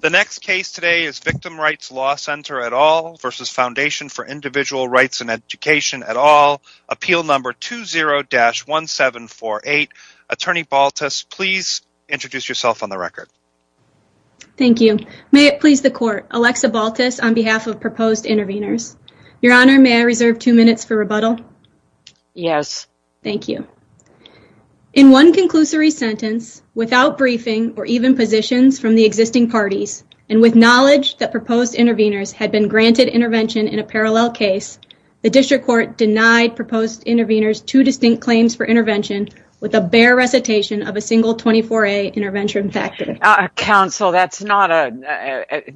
The next case today is Victim Rights Law Center v. Foundation for Indiv. Rgts in Edu. at All, Appeal No. 20-1748. Attorney Baltus, please introduce yourself on the record. Thank you. May it please the Court, Alexa Baltus on behalf of proposed interveners. Your Honor, may I reserve two minutes for rebuttal? Yes. Thank you. In one conclusory sentence, without briefing or even positions from the existing parties, and with knowledge that proposed interveners had been granted intervention in a parallel case, the District Court denied proposed interveners two distinct claims for intervention with a bare recitation of a single 24a intervention factor. Counsel, that's not a...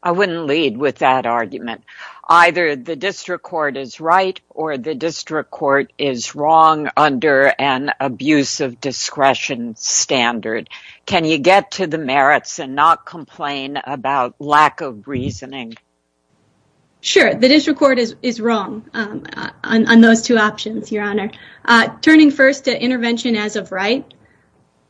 I wouldn't lead with that argument. Either the District Court is right, or the District Court is wrong under an abuse of discretion standard. Can you get to the merits and not complain about lack of reasoning? Sure. The District Court is wrong on those two options, Your Honor. Turning first to intervention as of right,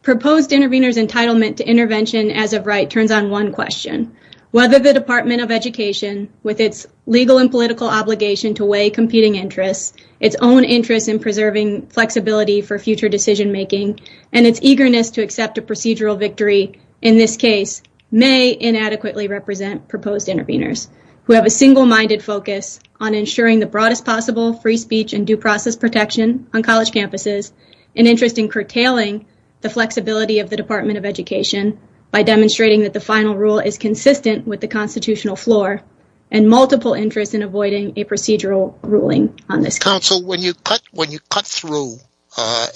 proposed intervener's entitlement to intervention as of right turns on question. Whether the Department of Education, with its legal and political obligation to weigh competing interests, its own interest in preserving flexibility for future decision-making, and its eagerness to accept a procedural victory in this case, may inadequately represent proposed interveners who have a single-minded focus on ensuring the broadest possible free speech and due process protection on college campuses, an interest in curtailing the flexibility of the Department of Education by demonstrating that the final rule is consistent with the constitutional floor, and multiple interests in avoiding a procedural ruling on this case. Counsel, when you cut through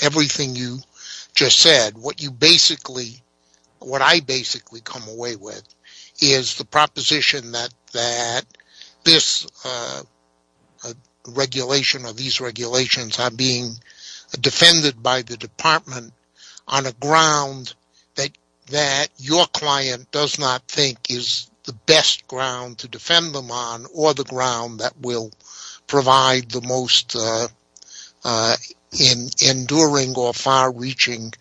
everything you just said, what you basically, what I basically come away with is the proposition that this regulation or these regulations are defended by the Department on a ground that your client does not think is the best ground to defend them on, or the ground that will provide the most enduring or far-reaching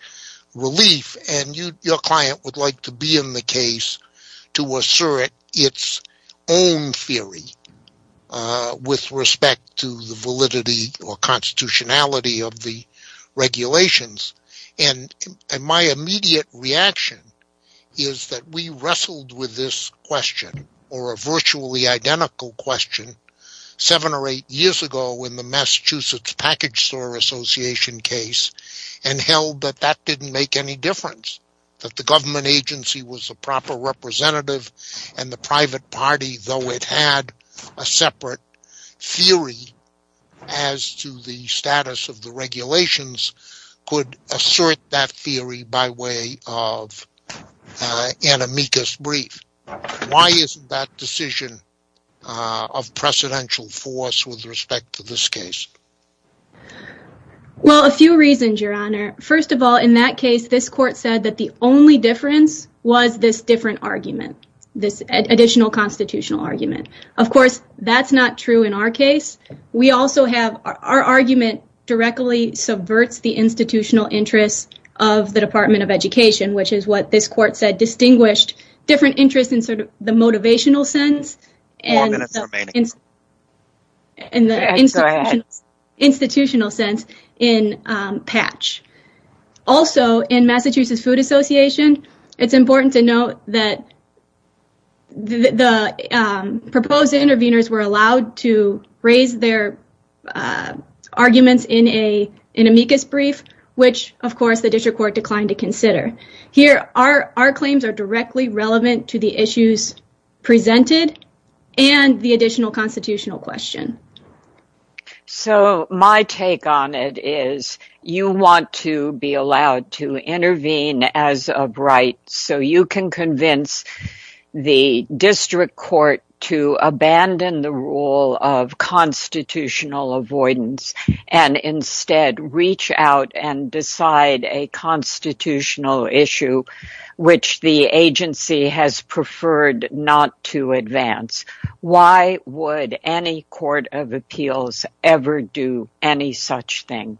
relief, and your client would like to be in the case to assert its own theory with respect to the validity or constitutionality of the regulations, and my immediate reaction is that we wrestled with this question, or a virtually identical question, seven or eight years ago in the Massachusetts Package Store Association case, and held that that didn't make any difference, that the government agency was a proper representative, and the private party, though it had a separate theory as to the status of the regulations, could assert that theory by way of an amicus brief. Why isn't that decision of precedential force with respect to this case? Well, a few reasons, your honor. First of all, in that case, this court said that the only difference was this different argument, this additional constitutional argument. Of course, that's not true in our case. We also have, our argument directly subverts the institutional interests of the Department of Education, which is what this court said distinguished different interests in sort of the motivational sense and the institutional sense in patch. Also, in Massachusetts Food Association, it's important to note that the proposed interveners were allowed to raise their arguments in an amicus brief, which, of course, the district court declined to consider. Here, our claims are directly relevant to the issues to be allowed to intervene as of right, so you can convince the district court to abandon the rule of constitutional avoidance and instead reach out and decide a constitutional issue, which the agency has preferred not to advance. Why would any court of appeals ever do any such thing?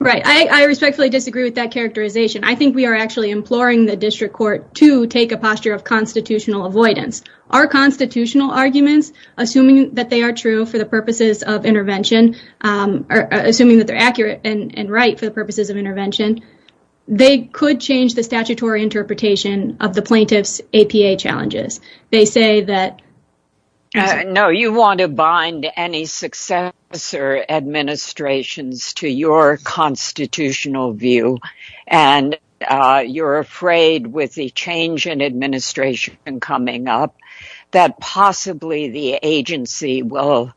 Right. I respectfully disagree with that characterization. I think we are actually imploring the district court to take a posture of constitutional avoidance. Our constitutional arguments, assuming that they are true for the purposes of intervention, assuming that they're accurate and right for the purposes of intervention, they could change the statutory interpretation of the plaintiff's APA challenges. They say that- No, you want to bind any successor administrations to your constitutional view and you're afraid, with the change in administration coming up, that possibly the agency will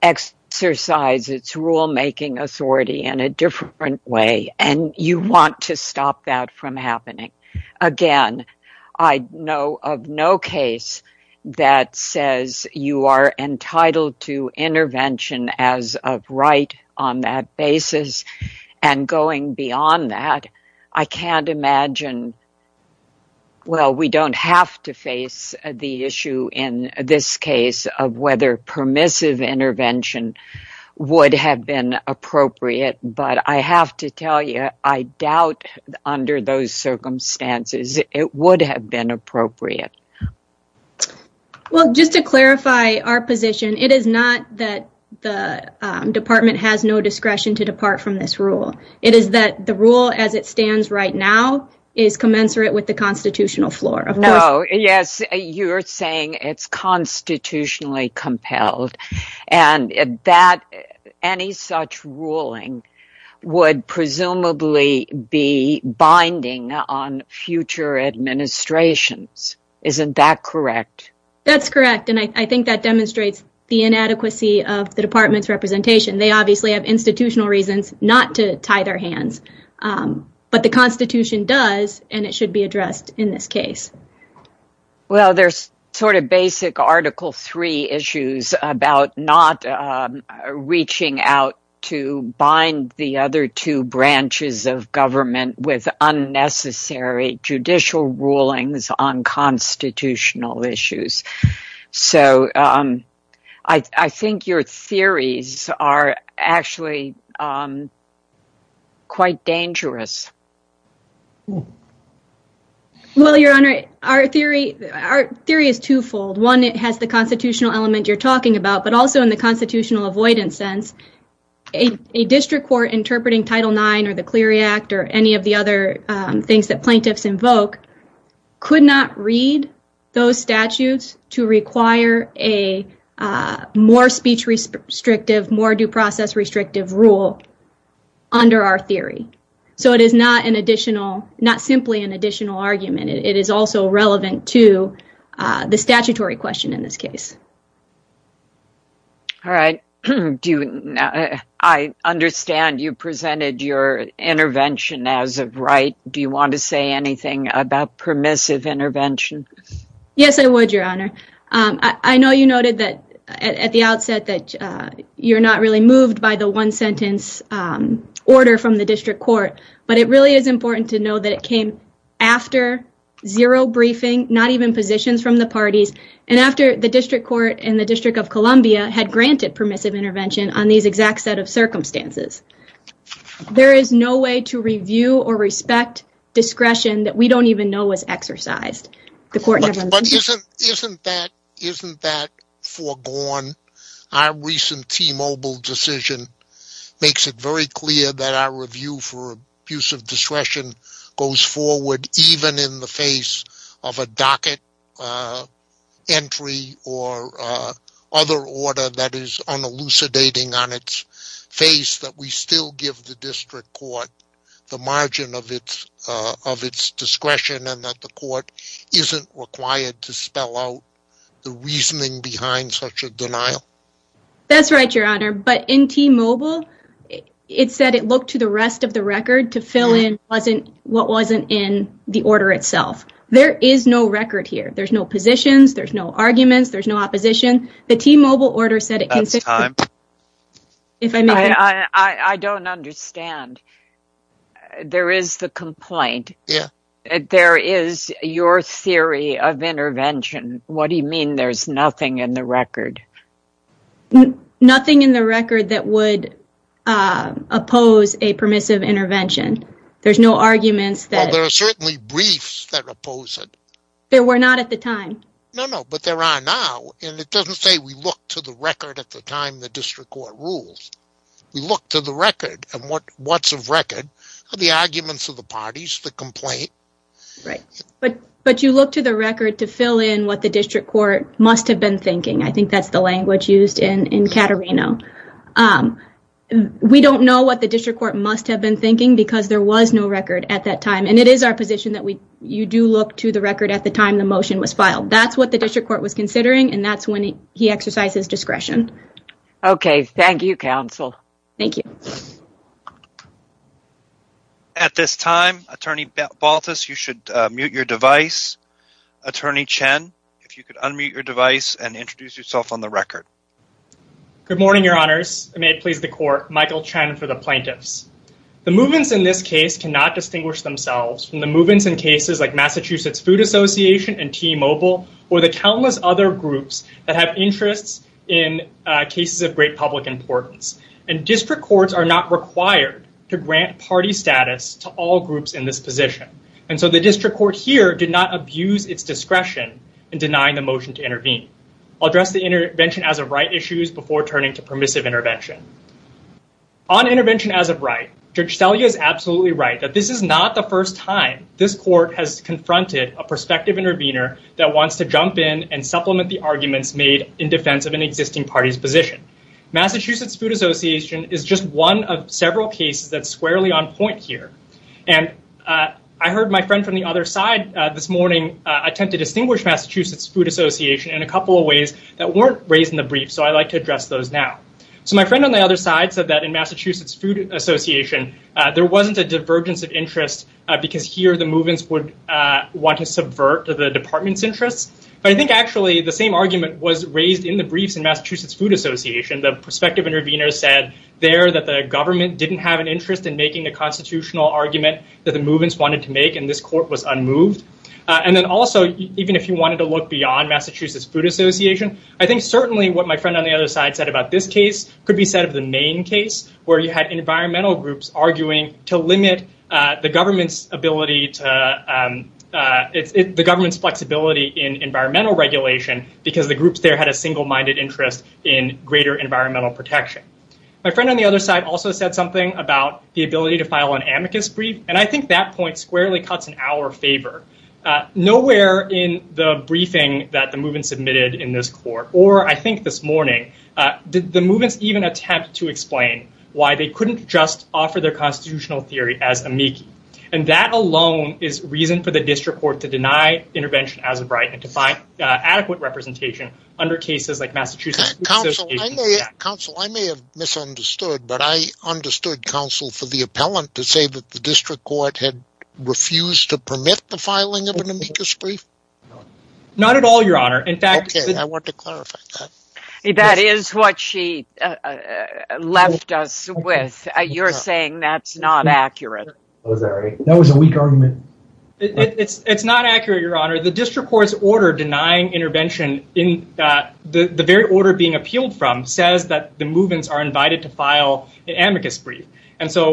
exercise its rule-making authority in a different way, and you want to stop that from happening. Again, I know of no case that says you are entitled to intervention as of right on that basis, and going beyond that, I can't imagine- Well, we don't have to face the issue in this case of whether permissive intervention would have been appropriate, but I have to tell you, I doubt under those circumstances it would have been appropriate. Well, just to clarify our position, it is not that the department has no discretion to depart from this rule. It is that the rule as it stands right now is commensurate with the constitutional floor. No, yes, you're saying it's constitutionally compelled, and any such ruling would presumably be binding on future administrations. Isn't that correct? That's correct, and I think that demonstrates the inadequacy of the department's representation. They obviously have institutional reasons not to tie their hands, but the constitution does, and it should be addressed in this case. Well, there's sort of basic article three issues about not reaching out to bind the other two branches of government with unnecessary judicial rulings on constitutional issues, so I think your theories are actually quite dangerous. Well, your honor, our theory is twofold. One, it has the constitutional element you're talking about, but also in the constitutional avoidance sense, a district court interpreting Title IX or the Clery Act or any of the other things that plaintiffs invoke could not read those statutes to require a more speech restrictive, more due process restrictive rule under our theory, so it is not simply an additional argument. It is also relevant to the statutory question in this case. All right. I understand you presented your intervention as of right. Do you want to say anything about permissive intervention? Yes, I would, your honor. I know you noted at the outset that you're not really moved by the one-sentence order from the district court, but it really is important to know that it came after zero briefing, not even positions from the parties, and after the district court and the District of Columbia had granted permissive intervention on these exact set of circumstances. There is no way to review or respect discretion that we don't even know was exercised. But isn't that foregone? Our recent T-Mobile decision makes it very clear that our review for abusive discretion goes forward even in the face of a docket entry or other order that is unelucidating on its face that we still give the district court the margin of its discretion and the court isn't required to spell out the reasoning behind such a denial. That's right, your honor. But in T-Mobile, it said it looked to the rest of the record to fill in what wasn't in the order itself. There is no record here. There's no positions. There's no arguments. There's no opposition. The T-Mobile order said it consisted... I don't understand. There is the complaint. There is your theory of intervention. What do you mean there's nothing in the record? Nothing in the record that would oppose a permissive intervention. There's no arguments. There are certainly briefs that oppose it. There were not at the time. No, no, but there are now and it doesn't say we look to the record at the time the district court rules. We look to the record and what's of record are the arguments of the parties, the complaint. Right, but you look to the record to fill in what the district court must have been thinking. I think that's the language used in in Caterino. We don't know what the district court must have been thinking because there was no record at that time and it is our position that you do look to the record at the time the motion was filed. That's what the district court was considering and that's when he exercises discretion. Okay, thank you, counsel. Thank you. At this time, attorney Baltus, you should mute your device. Attorney Chen, if you could unmute your device and introduce yourself on the record. Good morning, your honors. May it please the court. Michael Chen for the plaintiffs. The movements in this case cannot distinguish themselves from the movements in cases like that have interests in cases of great public importance and district courts are not required to grant party status to all groups in this position and so the district court here did not abuse its discretion in denying the motion to intervene. I'll address the intervention as of right issues before turning to permissive intervention. On intervention as of right, Judge Selye is absolutely right that this is not the first time this court has confronted a prospective intervener that wants to jump in and supplement the arguments made in defense of an existing party's position. Massachusetts Food Association is just one of several cases that's squarely on point here and I heard my friend from the other side this morning attempt to distinguish Massachusetts Food Association in a couple of ways that weren't raised in the brief, so I'd like to address those now. So my friend on the other side said that in Massachusetts Food Association there wasn't a divergence of interest because here the movements would want to subvert the department's interests, but I think actually the same argument was raised in the briefs in Massachusetts Food Association. The prospective intervener said there that the government didn't have an interest in making the constitutional argument that the movements wanted to make and this court was unmoved. And then also even if you wanted to look beyond Massachusetts Food Association, I think certainly what my friend on the other side said about this case could be said the main case where you had environmental groups arguing to limit the government's ability to, the government's flexibility in environmental regulation because the groups there had a single-minded interest in greater environmental protection. My friend on the other side also said something about the ability to file an amicus brief and I think that point squarely cuts in our favor. Nowhere in the briefing that the movement submitted in this court or I think this morning, did the movements even attempt to explain why they couldn't just offer their constitutional theory as amici and that alone is reason for the district court to deny intervention as of right and to find adequate representation under cases like Massachusetts. Counsel I may have misunderstood but I understood counsel for the appellant to say that the district court had refused to permit the That is what she left us with. You're saying that's not accurate. That was a weak argument. It's not accurate your honor. The district court's order denying intervention in that the very order being appealed from says that the movements are invited to file an amicus brief and so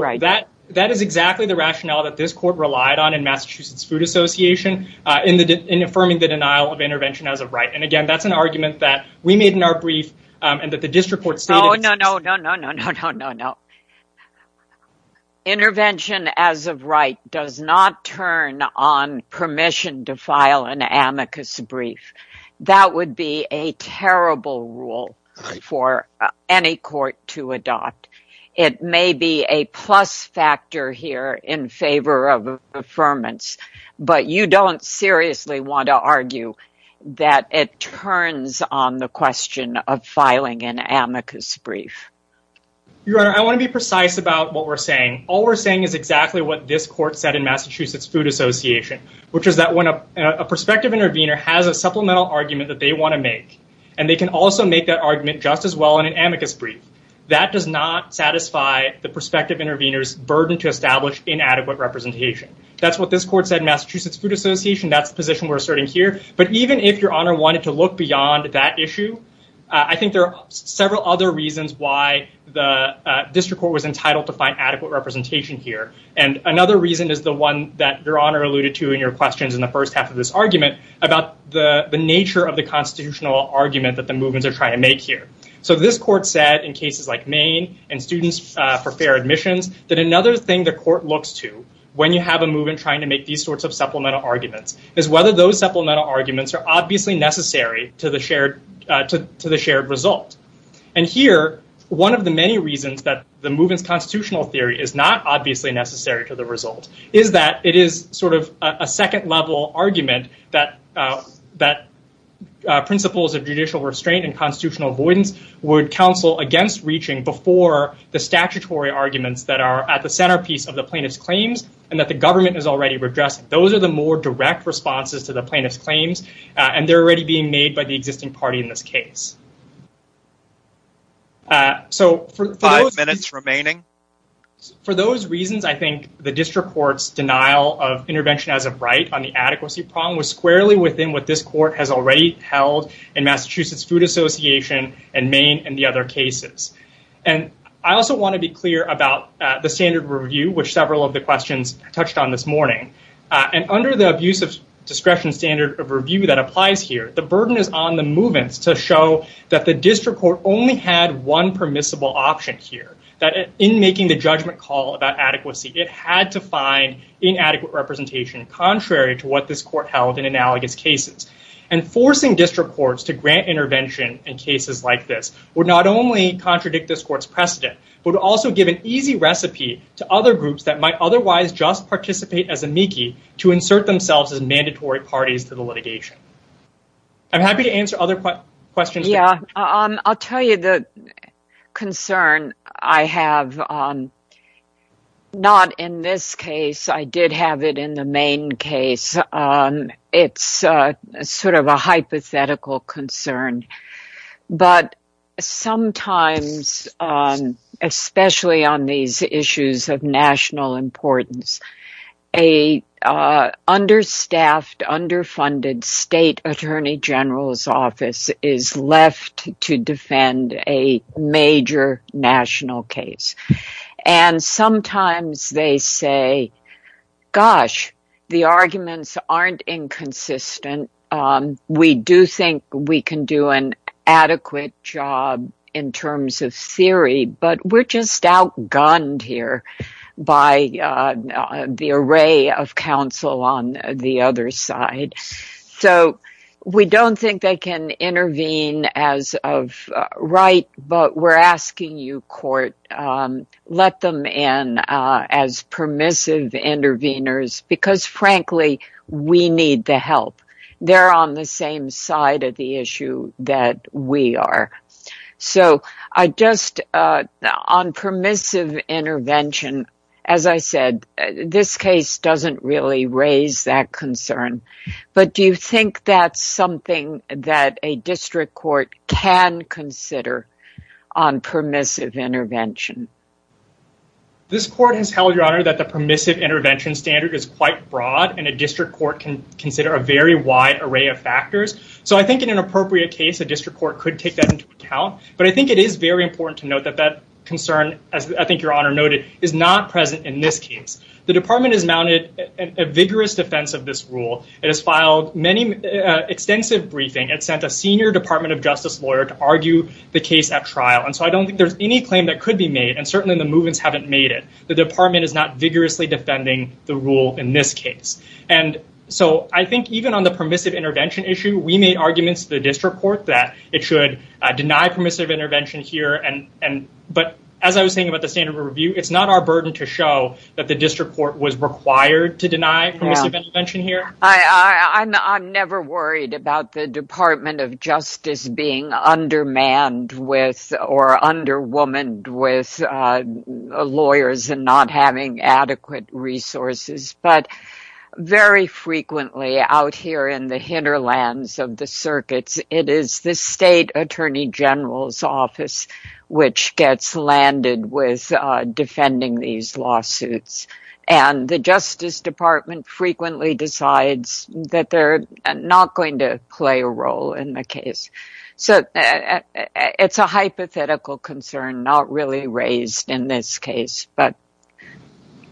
that is exactly the rationale that this court relied on in Massachusetts Food Association in affirming the denial of intervention as a right and again that's argument that we made in our brief and that the district court stated no no no no no no no no intervention as of right does not turn on permission to file an amicus brief. That would be a terrible rule for any court to adopt. It may be a plus factor here in favor of on the question of filing an amicus brief. Your honor I want to be precise about what we're saying. All we're saying is exactly what this court said in Massachusetts Food Association which is that when a prospective intervener has a supplemental argument that they want to make and they can also make that argument just as well in an amicus brief. That does not satisfy the prospective intervener's burden to establish inadequate representation. That's what this court said Massachusetts Food Association. That's the position we're asserting here but even if your issue I think there are several other reasons why the district court was entitled to find adequate representation here and another reason is the one that your honor alluded to in your questions in the first half of this argument about the the nature of the constitutional argument that the movements are trying to make here. So this court said in cases like Maine and students for fair admissions that another thing the court looks to when you have a movement trying to make these sorts of supplemental arguments is whether those supplemental arguments are obviously necessary to the shared to the shared result. And here one of the many reasons that the movements constitutional theory is not obviously necessary to the result is that it is sort of a second level argument that that principles of judicial restraint and constitutional avoidance would counsel against reaching before the statutory arguments that are at the centerpiece of the plaintiff's claims and that the government is already redressing. Those are the more direct responses to the plaintiff's made by the existing party in this case. Five minutes remaining. For those reasons I think the district court's denial of intervention as a right on the adequacy problem was squarely within what this court has already held in Massachusetts Food Association and Maine and the other cases. And I also want to be clear about the standard review which several of the questions touched on this morning and under the abuse of discretion standard of review that is on the movements to show that the district court only had one permissible option here. That in making the judgment call about adequacy it had to find inadequate representation contrary to what this court held in analogous cases. And forcing district courts to grant intervention in cases like this would not only contradict this court's precedent but also give an easy recipe to other groups that might otherwise just participate as amici to insert themselves as mandatory parties to the litigation. I'm happy to answer other questions. Yeah. I'll tell you the concern I have not in this case. I did have it in the Maine case. It's sort of a hypothetical concern. But sometimes, especially on these issues of underfunded state attorney general's office is left to defend a major national case. And sometimes they say, gosh, the arguments aren't inconsistent. We do think we can do an other side. So, we don't think they can intervene as of right. But we're asking you, court, let them in as permissive intervenors because, frankly, we need the help. They're on the same side of the issue that we are. So, I just on permissive intervention, as I said, this case doesn't really raise that concern. But do you think that's something that a district court can consider on permissive intervention? This court has held, Your Honor, that the permissive intervention standard is quite broad and a district court can consider a very wide array of factors. So, I think in an appropriate case, a district court could take that into account. But I think it is very important to is not present in this case. The department has mounted a vigorous defense of this rule. It has filed extensive briefing. It sent a senior Department of Justice lawyer to argue the case at trial. And so, I don't think there's any claim that could be made. And certainly, the movements haven't made it. The department is not vigorously defending the rule in this case. And so, I think even on the permissive intervention issue, we made arguments to the district court that it should deny permissive intervention here. But as I was saying about the review, it's not our burden to show that the district court was required to deny permissive intervention here. I'm never worried about the Department of Justice being undermanned with or underwomaned with lawyers and not having adequate resources. But very frequently out here in the hinterlands of the circuits, it is the state attorney general's office which gets landed with defending these lawsuits. And the Justice Department frequently decides that they're not going to play a role in the case. So, it's a hypothetical concern not really raised in this case. But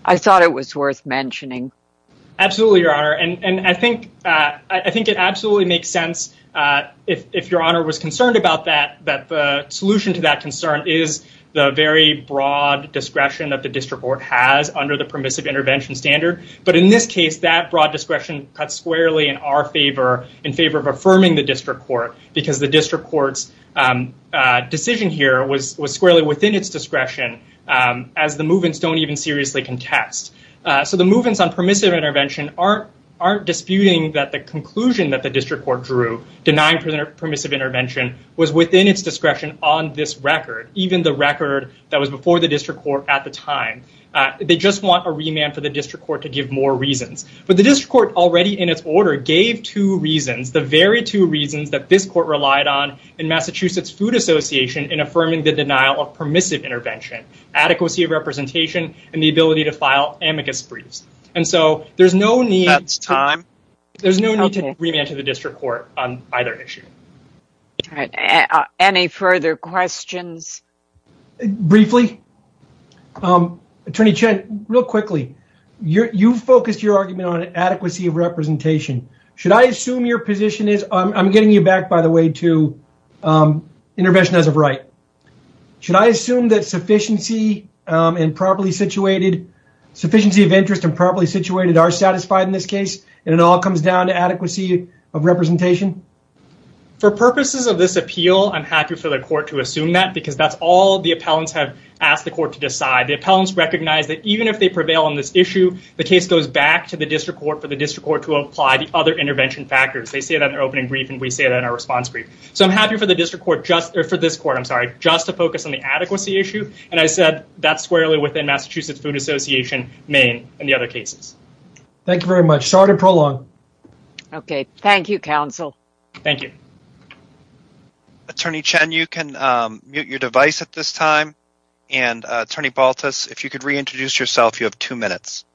I thought it was worth mentioning. Absolutely, Your Honor. And I think it absolutely makes sense, if Your Honor was concerned about that, that the solution to that concern is the very broad discretion that the district court has under the permissive intervention standard. But in this case, that broad discretion cuts squarely in our favor, in favor of affirming the district court, because the district court's decision here was squarely within its discretion as the movements don't even seriously contest. So, the movements on permissive intervention aren't disputing that the conclusion that the district court drew, denying permissive intervention, was within its discretion on this record, even the record that was before the district court at the time. They just want a remand for the district court to give more reasons. But the district court already in its order gave two reasons, the very two reasons that this court relied on in Massachusetts Food Association in affirming the denial of permissive intervention, adequacy of representation, and the ability to file amicus briefs. And so, there's no need... That's time. There's no need to remand to the district court on either issue. All right, any further questions? Briefly, Attorney Chen, real quickly, you focused your argument on adequacy of representation. Should I assume your position is, I'm getting you back by the way to intervention as of right, should I assume that sufficiency of interest and properly situated are satisfied in this case and it all comes down to adequacy of representation? For purposes of this appeal, I'm happy for the court to assume that because that's all the appellants have asked the court to decide. The appellants recognize that even if they prevail on this issue, the case goes back to the district court for the district court to apply the other intervention factors. They say that in their opening brief and we say that in our response brief. So, I'm happy for the district court, or for this court, I'm sorry, just to focus on the adequacy issue. And I said, that's squarely within Massachusetts Food Association main and the other cases. Thank you very much. Sorry to prolong. Okay. Thank you, counsel. Thank you. Attorney Chen, you can mute your device at this time. And Attorney Baltus, if you could reintroduce yourself, you have two minutes.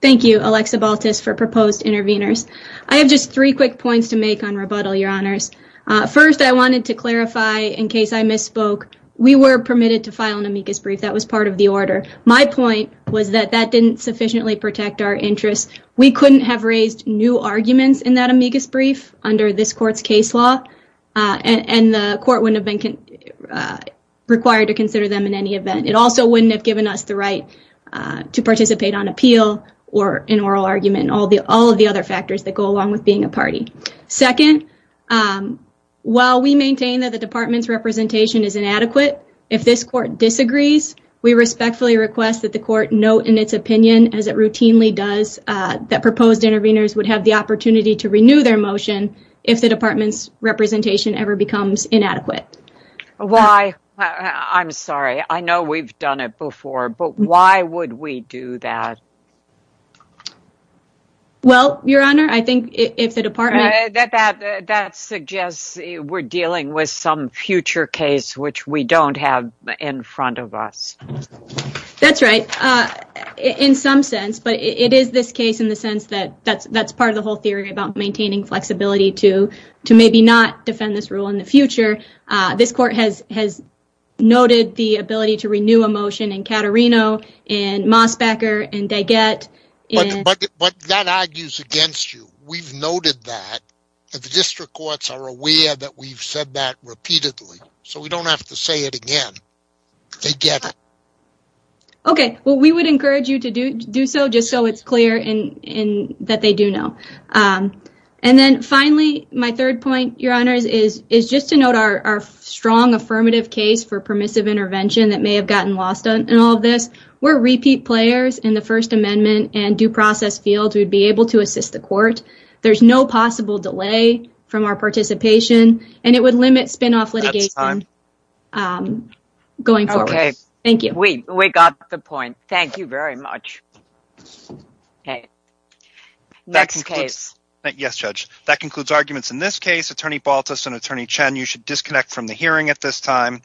Thank you, Alexa Baltus for proposed intervenors. I have just three quick points to make on rebuttal, your honors. First, I wanted to clarify in case I misspoke, we were permitted to file an amicus brief. That was part of the order. My point was that that didn't sufficiently protect our interests. We couldn't have raised new arguments in that amicus brief under this court's case law. And the court wouldn't have been required to consider them in any event. It also wouldn't have given us the right to participate on appeal or an oral argument, all of the other factors that go along with being a party. Second, while we maintain that the department's representation is inadequate, if this court disagrees, we respectfully request that the court note in its opinion, as it routinely does, that proposed intervenors would have the opportunity to renew their motion if the department's representation ever becomes inadequate. Why? I'm sorry. I know we've done it before, but why would we do that? Well, your honor, I think if the department... That suggests we're dealing with some future case, which we don't have in front of us. That's right. In some sense, but it is this case in the sense that that's part of the whole theory about maintaining flexibility to maybe not defend this rule in the future. This court has noted the ability to renew a motion in Caterino, in Mosbacher, in Daggett. But that argues against you. We've noted that, and the district courts are aware that we've said that repeatedly, so we don't have to say it again. They get it. Okay. Well, we would encourage you to do so just so it's clear that they do know. And then finally, my third point, your honors, is just to note our strong affirmative case for permissive intervention that may have gotten lost in all of this. We're repeat players in the First Amendment and due process field. We'd be able to assist the court. There's no possible delay from our participation, and it would limit spinoff litigation going forward. Thank you. We got the point. Thank you very much. Okay. Next case. Yes, Judge. That concludes arguments in this case. Attorney Baltus and Attorney Chen, you should disconnect from the hearing at this time.